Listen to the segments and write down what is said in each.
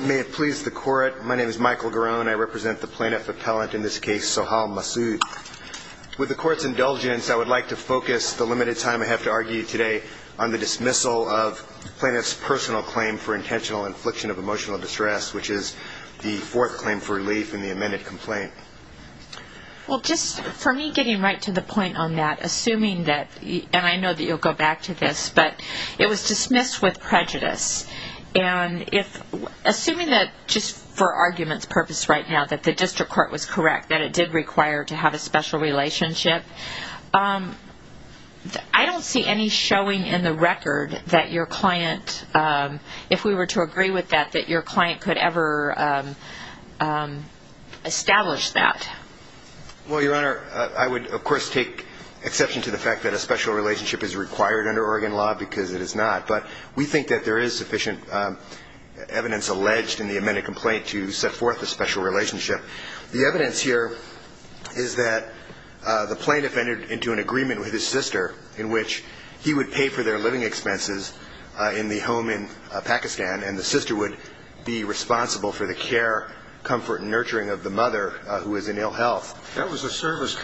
May it please the court. My name is Michael Garone. I represent the plaintiff appellant in this case, Sohal Masood. With the court's indulgence, I would like to focus the limited time I have to argue today on the dismissal of plaintiff's personal claim for intentional infliction of emotional distress, which is the fourth claim for relief in the amended complaint. Well just for me getting right to the point on that, assuming that, and I know that you'll go back to this, but it was dismissed with prejudice and if assuming that just for arguments purpose right now that the district court was correct that it did require to have a special relationship, I don't see any showing in the record that your client, if we were to agree with that, that your client could ever establish that. Well your honor, I would of course take exception to the fact that a special relationship is required under Oregon law because it is not, but we think that there is sufficient evidence alleged in the amended complaint to set forth a special relationship. The evidence here is that the plaintiff entered into an agreement with his sister in which he would pay for their living expenses in the home in Pakistan and the sister would be responsible for the care, comfort, and nurturing of the mother who is in ill mother.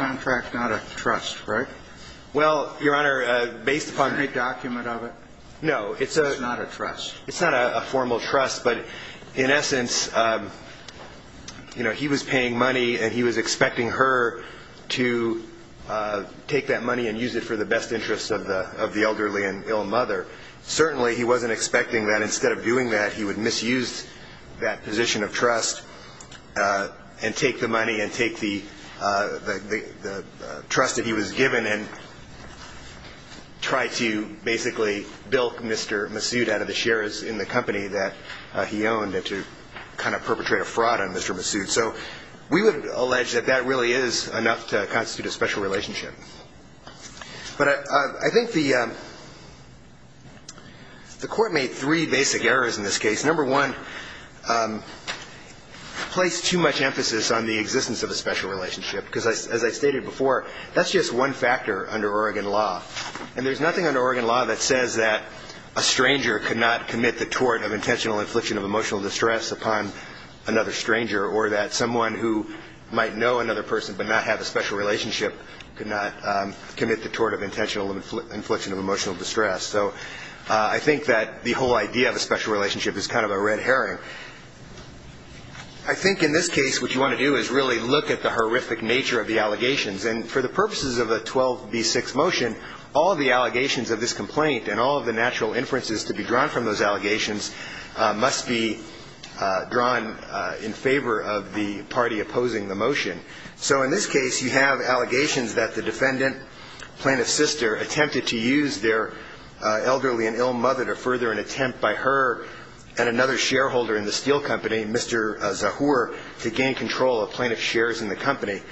Certainly he wasn't expecting that instead of doing that he would misuse given to pay for the care of the mother. But in essence, he was paying money and he was expecting her to take that money and use it for the best interests of the elderly and ill mother. Certainly he wasn't expecting that instead of doing that he would misuse given and try to basically bilk Mr. Masood out of the shares in the company that he owned to kind of perpetrate a fraud on Mr. Masood. So we would allege that that really is enough to constitute a special relationship. But I think the court made three basic errors in this case. Number one, placed too much emphasis on the existence of a special relationship because as I stated before, that's just one factor under Oregon law. And there's nothing under Oregon law that says that a stranger could not commit the tort of intentional infliction of emotional distress upon another stranger or that someone who might know another person but not have a special relationship could not commit the tort of intentional infliction of emotional distress. So I think that the whole idea of a special relationship is kind of a red herring. I think in this case what you want to do is really look at the horrific nature of the allegations. And for the purposes of a 12B6 motion, all of the allegations of this complaint and all of the natural inferences to be drawn from those allegations must be drawn in favor of the party opposing the motion. So in this case you have allegations that the defendant, plaintiff's sister, attempted to use their elderly and ill mother to further an attempt by her and another shareholder in the steel company, Mr. Zahur, to gain control of plaintiff's shares in the company.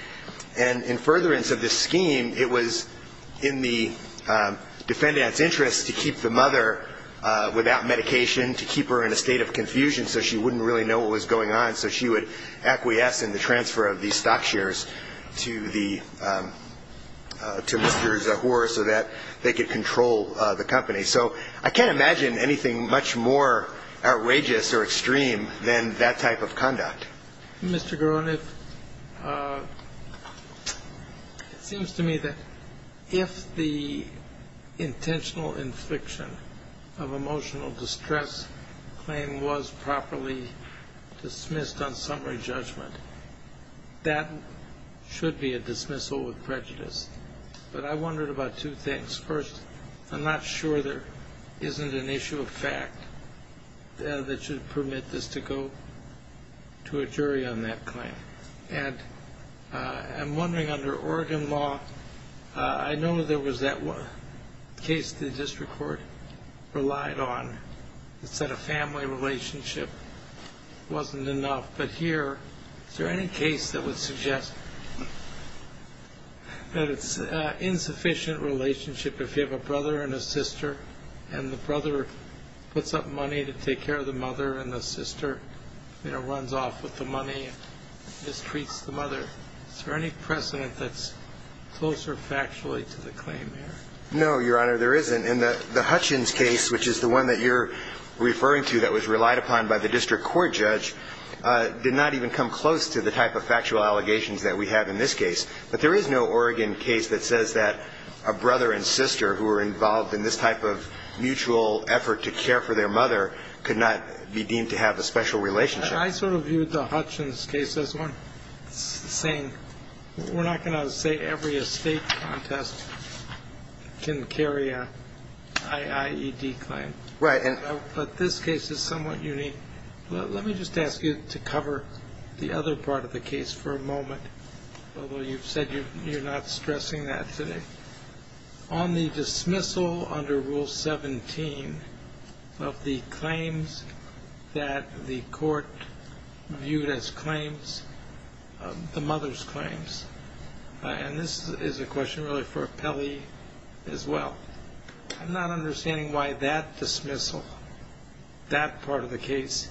And in furtherance of this scheme, it was in the defendant's interest to keep the mother without medication, to keep her in a state of confusion so she wouldn't really know what was going on, so she would acquiesce in the transfer of these stock shares to Mr. Zahur so that they could control the company. So I can't imagine anything much more outrageous or extreme than that type of conduct. Mr. Garoniff, it seems to me that if the intentional infliction of emotional distress claim was properly dismissed on summary judgment, that should be a dismissal with prejudice. But I wondered about two things. First, I'm not sure there isn't an issue of fact that should permit this to go to a jury on that claim. And I'm wondering under Oregon law, I know there was that case the district court relied on that said a family relationship wasn't enough. But here, is there any case that would suggest that it's an insufficient relationship if you have a brother and a sister, and the brother puts up money to take care of the mother, and the sister runs off with the money and mistreats the mother? Is there any precedent that's closer factually to the claim here? No, Your Honor, there isn't. In the Hutchins case, which is the one that you're referring to that was relied upon by the district court judge, did not even come close to the type of factual allegations that we have in this case. But there is no Oregon case that says that a brother and sister who were involved in this type of mutual effort to care for their mother could not be deemed to have a special relationship. I sort of viewed the Hutchins case as one saying we're not going to say every estate contest can carry an I.I.E.D. claim. Right. But this case is somewhat unique. Let me just ask you to cover the other part of the case for a moment, although you've said you're not stressing that today. On the dismissal under Rule 17 of the claims that the court viewed as claims, the mother's claims, and this is a question really for Pelley as well. I'm not understanding why that dismissal, that part of the case,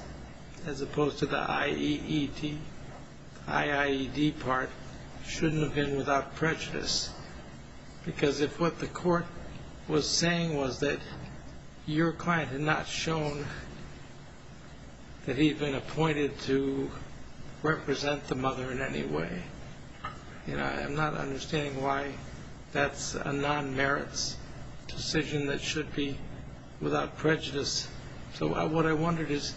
as opposed to the I.E.E.D., I.I.E.D. part, shouldn't have been without prejudice. Because if what the court was saying was that your client had not shown that he'd been appointed to represent the mother in any way, I'm not understanding why that's a non-merits decision that should be without prejudice. So what I wondered is,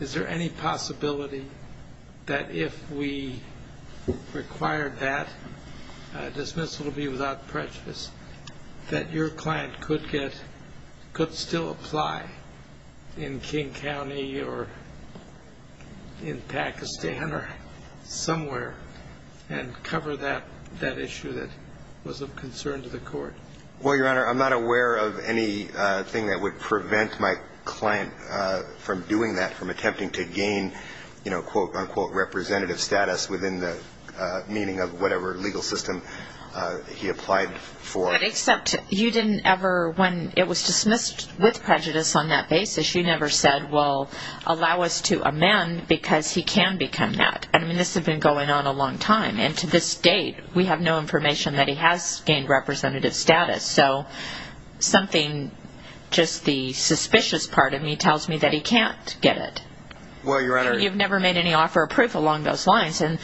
is there any possibility that if we required that dismissal to be without prejudice, that your client could still apply in King County or in Pakistan or somewhere and cover that issue that was of concern to the court? Well, Your Honor, I'm not aware of anything that would prevent my client from doing that, from attempting to gain, quote-unquote, representative status within the meaning of whatever legal system he applied for. But except you didn't ever, when it was dismissed with prejudice on that basis, you never said, well, allow us to amend because he can become that. I mean, this had been going on a long time. And to this date, we have no information that he has gained representative status. So something, just the suspicious part of me tells me that he can't get it. Well, Your Honor. You've never made any offer of proof along those lines. And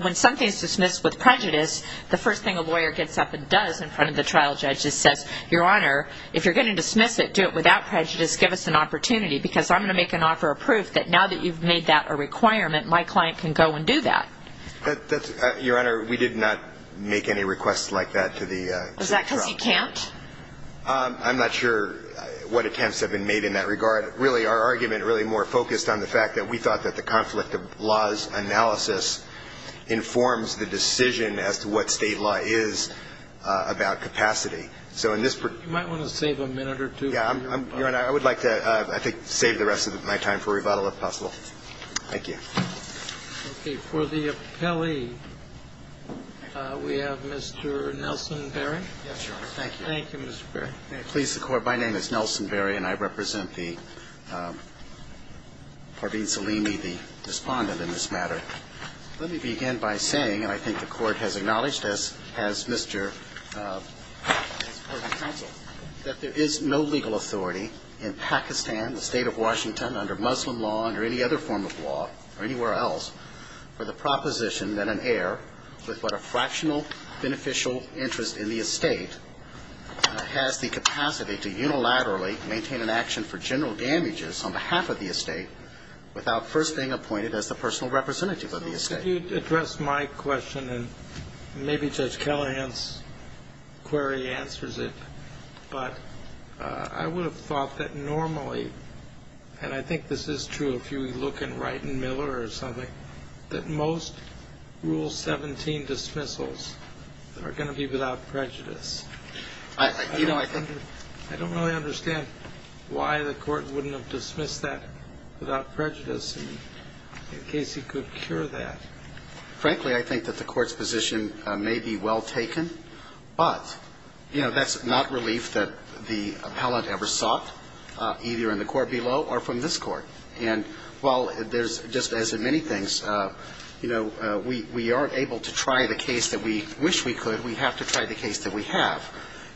when something is dismissed with prejudice, the first thing a lawyer gets up and does in front of the trial judge is says, Your Honor, if you're going to dismiss it, do it without prejudice. Give us an opportunity because I'm going to make an offer of proof that now that you've made that a requirement, my client can go and do that. Your Honor, we did not make any requests like that to the trial. Was that because you can't? I'm not sure what attempts have been made in that regard. Really, our argument really more focused on the fact that we thought that the conflict of laws analysis informs the decision as to what State law is about capacity. So in this particular You might want to save a minute or two. Your Honor, I would like to, I think, save the rest of my time for rebuttal, if possible. Thank you. Okay. For the appellee, we have Mr. Nelson Berry. Yes, Your Honor. Thank you. Thank you, Mr. Berry. May it please the Court, my name is Nelson Berry, and I represent the Parveen Salimi, the respondent in this matter. Let me begin by saying, and I think the Court has acknowledged this, has Mr. That there is no legal authority in Pakistan, the State of Washington, under Muslim law, under any other form of law, or anywhere else, for the proposition that an heir with but a fractional beneficial interest in the estate has the capacity to unilaterally maintain an action for general damages on behalf of the estate without first being appointed as the personal representative of the estate. Could you address my question, and maybe Judge Callahan's query answers it. But I would have thought that normally, and I think this is true if you look in Wright and Miller or something, that most Rule 17 dismissals are going to be without prejudice. I don't really understand why the Court wouldn't have dismissed that without prejudice, in case he could cure that. Frankly, I think that the Court's position may be well taken. But that's not relief that the appellant ever sought, either in the court below or from this court. And while there's, just as in many things, we aren't able to try the case that we wish we could, we have to try the case that we have.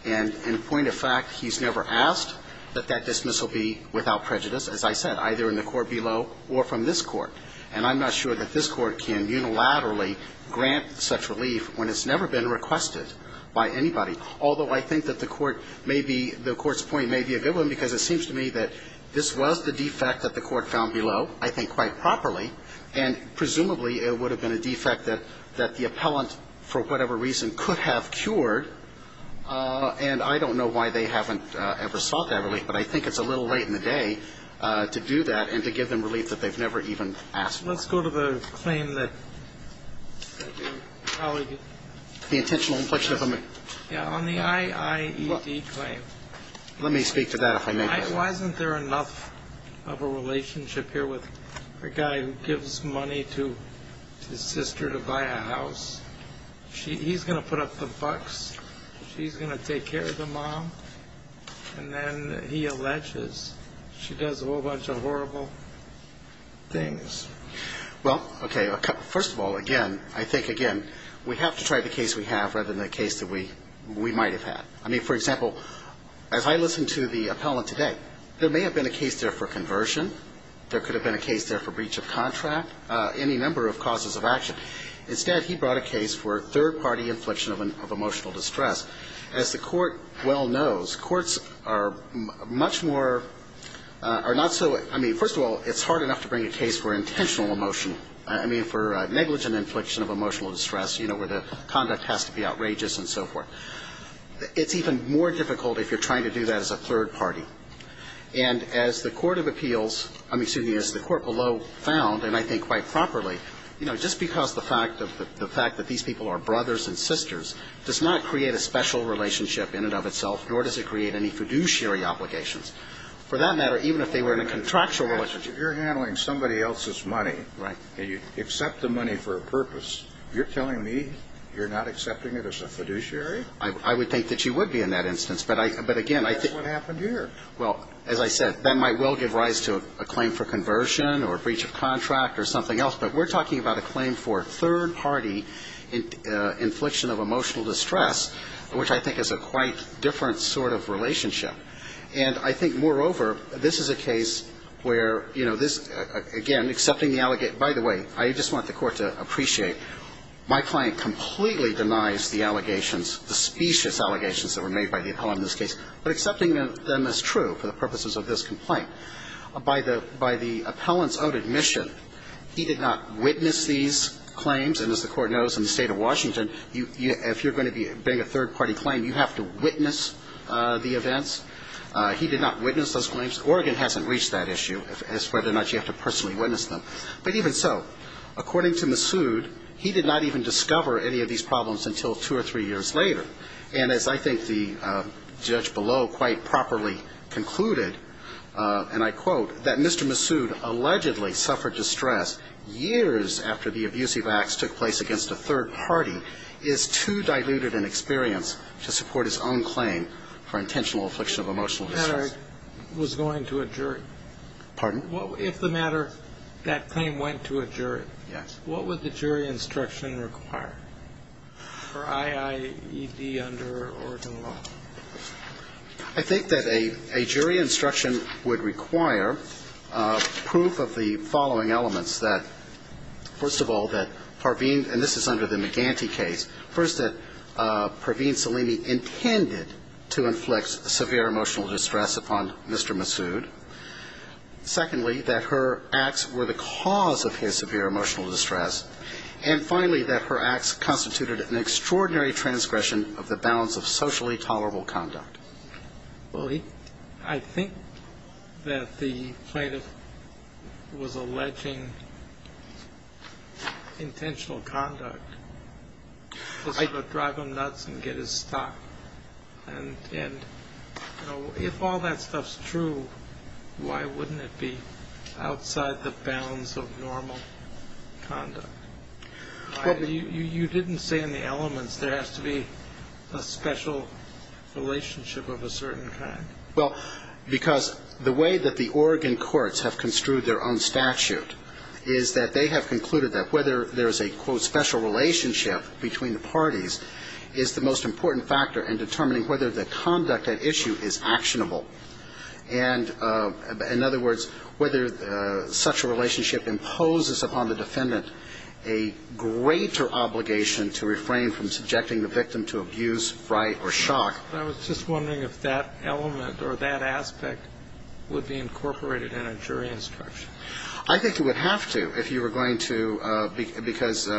And in point of fact, he's never asked that that dismissal be without prejudice, as I said, either in the court below or from this court. And I'm not sure that this court can unilaterally grant such relief when it's never been requested by anybody. Although I think that the Court's point may be a good one, because it seems to me that this was the defect that the Court found below, I think quite properly. And presumably, it would have been a defect that the appellant, for whatever reason, could have cured. And I don't know why they haven't ever sought that relief, but I think it's a little late in the day to do that and to give them relief that they've never even asked for. Let's go to the claim that. The intentional inflection of a man. Yeah, on the IIED claim. Let me speak to that if I may. Why isn't there enough of a relationship here with a guy who gives money to his sister to buy a house? He's going to put up the bucks, she's going to take care of the mom, and then he alleges she does a whole bunch of horrible things. Well, okay, first of all, again, I think, again, we have to try the case we have rather than the case that we might have had. I mean, for example, as I listened to the appellant today, there may have been a case there for conversion. There could have been a case there for breach of contract, any number of causes of action. Instead, he brought a case for third party inflection of emotional distress. As the court well knows, courts are much more, are not so, I mean, first of all, it's hard enough to bring a case for intentional emotion, I mean, for negligent inflection of emotional distress, where the conduct has to be outrageous and so forth. It's even more difficult if you're trying to do that as a third party. And as the court of appeals, I mean, excuse me, as the court below found, and I think quite properly, just because the fact that these people are brothers and sisters, it doesn't create a special relationship in and of itself, nor does it create any fiduciary obligations. For that matter, even if they were in a contractual relationship. If you're handling somebody else's money, and you accept the money for a purpose, you're telling me you're not accepting it as a fiduciary? I would think that you would be in that instance. But again, I think. That's what happened here. Well, as I said, that might well give rise to a claim for conversion or a breach of contract or something else. But we're talking about a claim for third-party infliction of emotional distress, which I think is a quite different sort of relationship. And I think, moreover, this is a case where, you know, this, again, accepting the allegation. By the way, I just want the Court to appreciate, my client completely denies the allegations, the specious allegations that were made by the appellant in this case. But accepting them as true for the purposes of this complaint, by the appellant's own admission, he did not witness these claims. And as the Court knows, in the State of Washington, if you're going to bring a third-party claim, you have to witness the events. He did not witness those claims. Oregon hasn't reached that issue as to whether or not you have to personally witness them. But even so, according to Massoud, he did not even discover any of these problems until two or three years later. And as I think the judge below quite properly concluded, and I quote, that Mr. Massoud allegedly suffered distress years after the abusive acts took place against a third party, is too diluted an experience to support his own claim for intentional affliction of emotional distress. The matter was going to a jury. Pardon? If the matter, that claim, went to a jury, what would the jury instruction require for I.I.E.D. under Oregon law? I think that a jury instruction would require proof of the following elements that, first of all, that Parveen, and this is under the McGanty case, first, that Parveen Salimi intended to inflict severe emotional distress upon Mr. Massoud. Secondly, that her acts were the cause of his severe emotional distress. And finally, that her acts constituted an extraordinary transgression of the bounds of socially tolerable conduct. Well, I think that the plaintiff was alleging intentional conduct. This is what drive him nuts and get his stock. And, you know, if all that stuff's true, why wouldn't it be outside the bounds of normal conduct? You didn't say in the elements there has to be a special relationship of a certain kind. Well, because the way that the Oregon courts have construed their own statute is that they have concluded that whether there is a, quote, special relationship between the parties is the most important factor in determining whether the conduct at issue is actionable. And, in other words, whether such a relationship imposes upon the defendant a greater obligation to refrain from subjecting the victim to abuse, fright or shock. I was just wondering if that element or that aspect would be incorporated in a jury instruction. I think it would have to if you were going to, because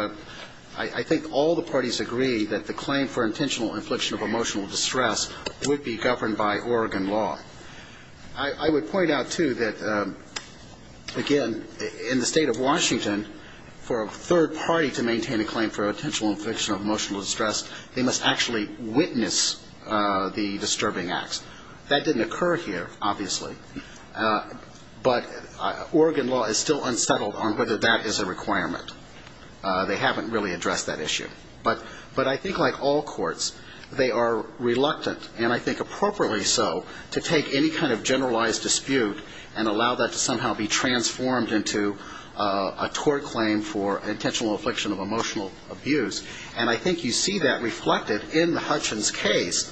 I think all the parties agree that the claim for intentional infliction of emotional distress would be governed by Oregon law. I would point out, too, that, again, in the state of Washington, for a third party to maintain a claim for intentional infliction of emotional distress, they must actually witness the disturbing acts. That didn't occur here, obviously. But Oregon law is still unsettled on whether that is a requirement. They haven't really addressed that issue. But I think, like all courts, they are reluctant, and I think appropriately so, to take any kind of generalized dispute and allow that to somehow be transformed into a tort claim for intentional infliction of emotional abuse. And I think you see that reflected in the Hutchins case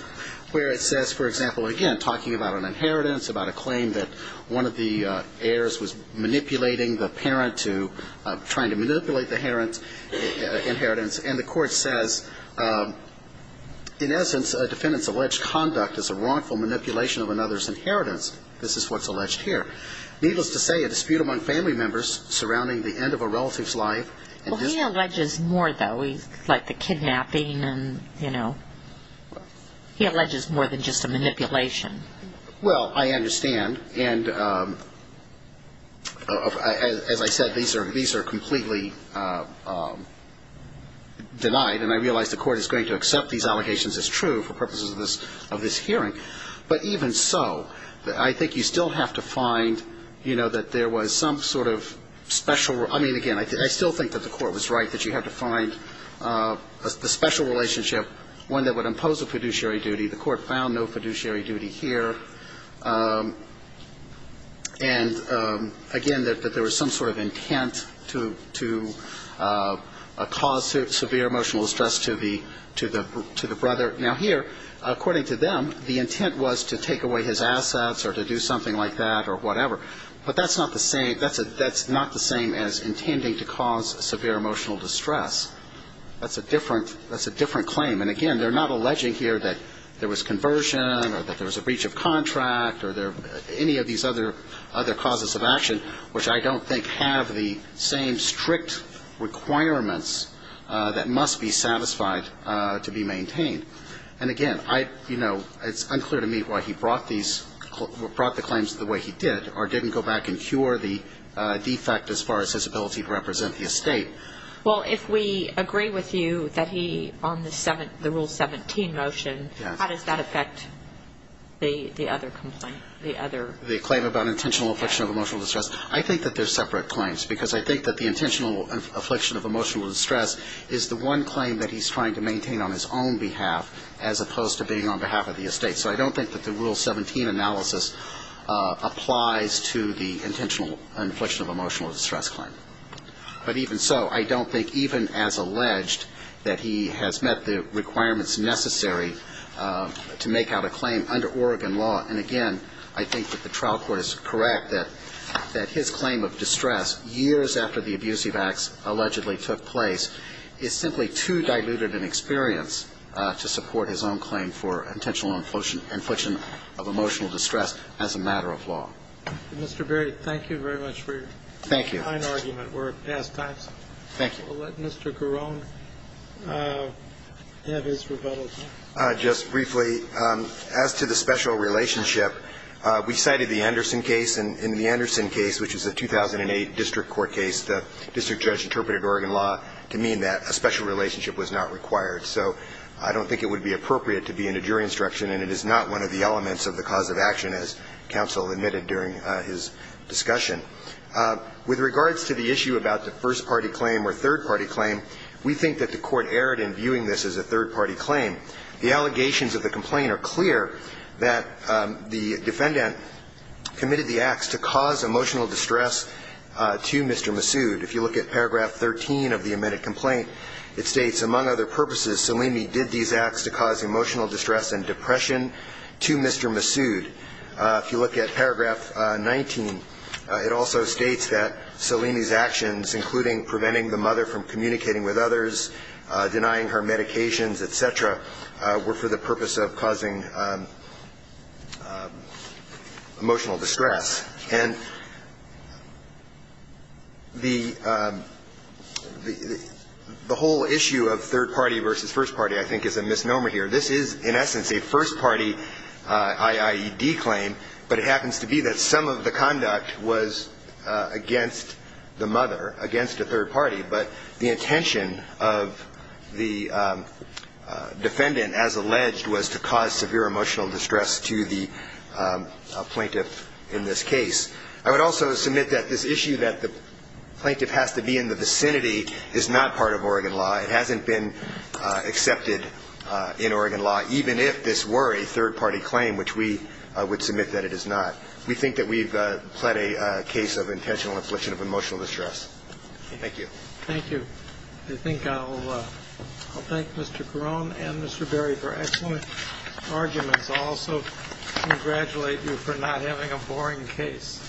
where it says, for example, again, talking about an inheritance, about a claim that one of the heirs was manipulating the parent to trying to manipulate the inheritance. And the court says, in essence, a defendant's alleged conduct is a wrongful manipulation of another's inheritance. This is what's alleged here. Needless to say, a dispute among family members surrounding the end of a relative's life. Well, he alleges more, though, like the kidnapping and, you know. He alleges more than just a manipulation. Well, I understand. And as I said, these are completely denied. And I realize the court is going to accept these allegations as true for purposes of this hearing. But even so, I think you still have to find, you know, that there was some sort of special... I mean, again, I still think that the court was right, that you have to find a special relationship, one that would impose a fiduciary duty. The court found no fiduciary duty here. And, again, that there was some sort of intent to cause severe emotional stress to the brother. Now, here, according to them, the intent was to take away his assets or to do something like that or whatever. But that's not the same as intending to cause severe emotional distress. That's a different claim. And, again, they're not alleging here that there was conversion or that there was a breach of contract or any of these other causes of action, which I don't think have the same strict requirements that must be satisfied to be maintained. And, again, I, you know, it's unclear to me why he brought these, brought the claims the way he did or didn't go back and cure the defect as far as his ability to represent the estate. Well, if we agree with you that he, on the Rule 17 motion, how does that affect the other complaint, the other... The claim about intentional affliction of emotional distress. I think that they're separate claims because I think that the intentional affliction of emotional distress is the one claim that he's trying to maintain on his own behalf as opposed to being on behalf of the estate. So I don't think that the Rule 17 analysis applies to the intentional affliction of emotional distress claim. But even so, I don't think, even as alleged, that he has met the requirements necessary to make out a claim under Oregon law. And, again, I think that the trial court is correct that his claim of distress, years after the abusive acts allegedly took place, is simply too diluted in experience to support his own claim for intentional infliction of emotional distress as a matter of law. Mr. Berry, thank you very much for your kind argument. Thank you. We're at past times. Thank you. We'll let Mr. Garone have his rebuttal. Just briefly, as to the special relationship, we cited the Anderson case. In the Anderson case, which is a 2008 district court case, the district judge interpreted Oregon law to mean that a special relationship was not required. So I don't think it would be appropriate to be in a jury instruction, and it is not one of the elements of the cause of action, as counsel admitted during his discussion. With regards to the issue about the first-party claim or third-party claim, we think that the court erred in viewing this as a third-party claim. The allegations of the complaint are clear that the defendant committed the acts to cause emotional distress to Mr. Massoud. If you look at paragraph 13 of the admitted complaint, it states, among other purposes, Salimi did these acts to cause emotional distress and depression to Mr. Massoud. If you look at paragraph 19, it also states that Salimi's actions, including preventing the mother from communicating with others, denying her medications, et cetera, were for the purpose of causing emotional distress. And the whole issue of third-party versus first-party, I think, is a misnomer here. This is, in essence, a first-party IIED claim, but it happens to be that some of the conduct was against the mother, against a third party. But the intention of the defendant, as alleged, was to cause severe emotional distress to the plaintiff in this case. I would also submit that this issue that the plaintiff has to be in the vicinity is not part of Oregon law. It hasn't been accepted in Oregon law, even if this were a third-party claim, which we would submit that it is not. We think that we've pled a case of intentional infliction of emotional distress. Thank you. Thank you. I think I'll thank Mr. Carone and Mr. Berry for excellent arguments. I'll also congratulate you for not having a boring case.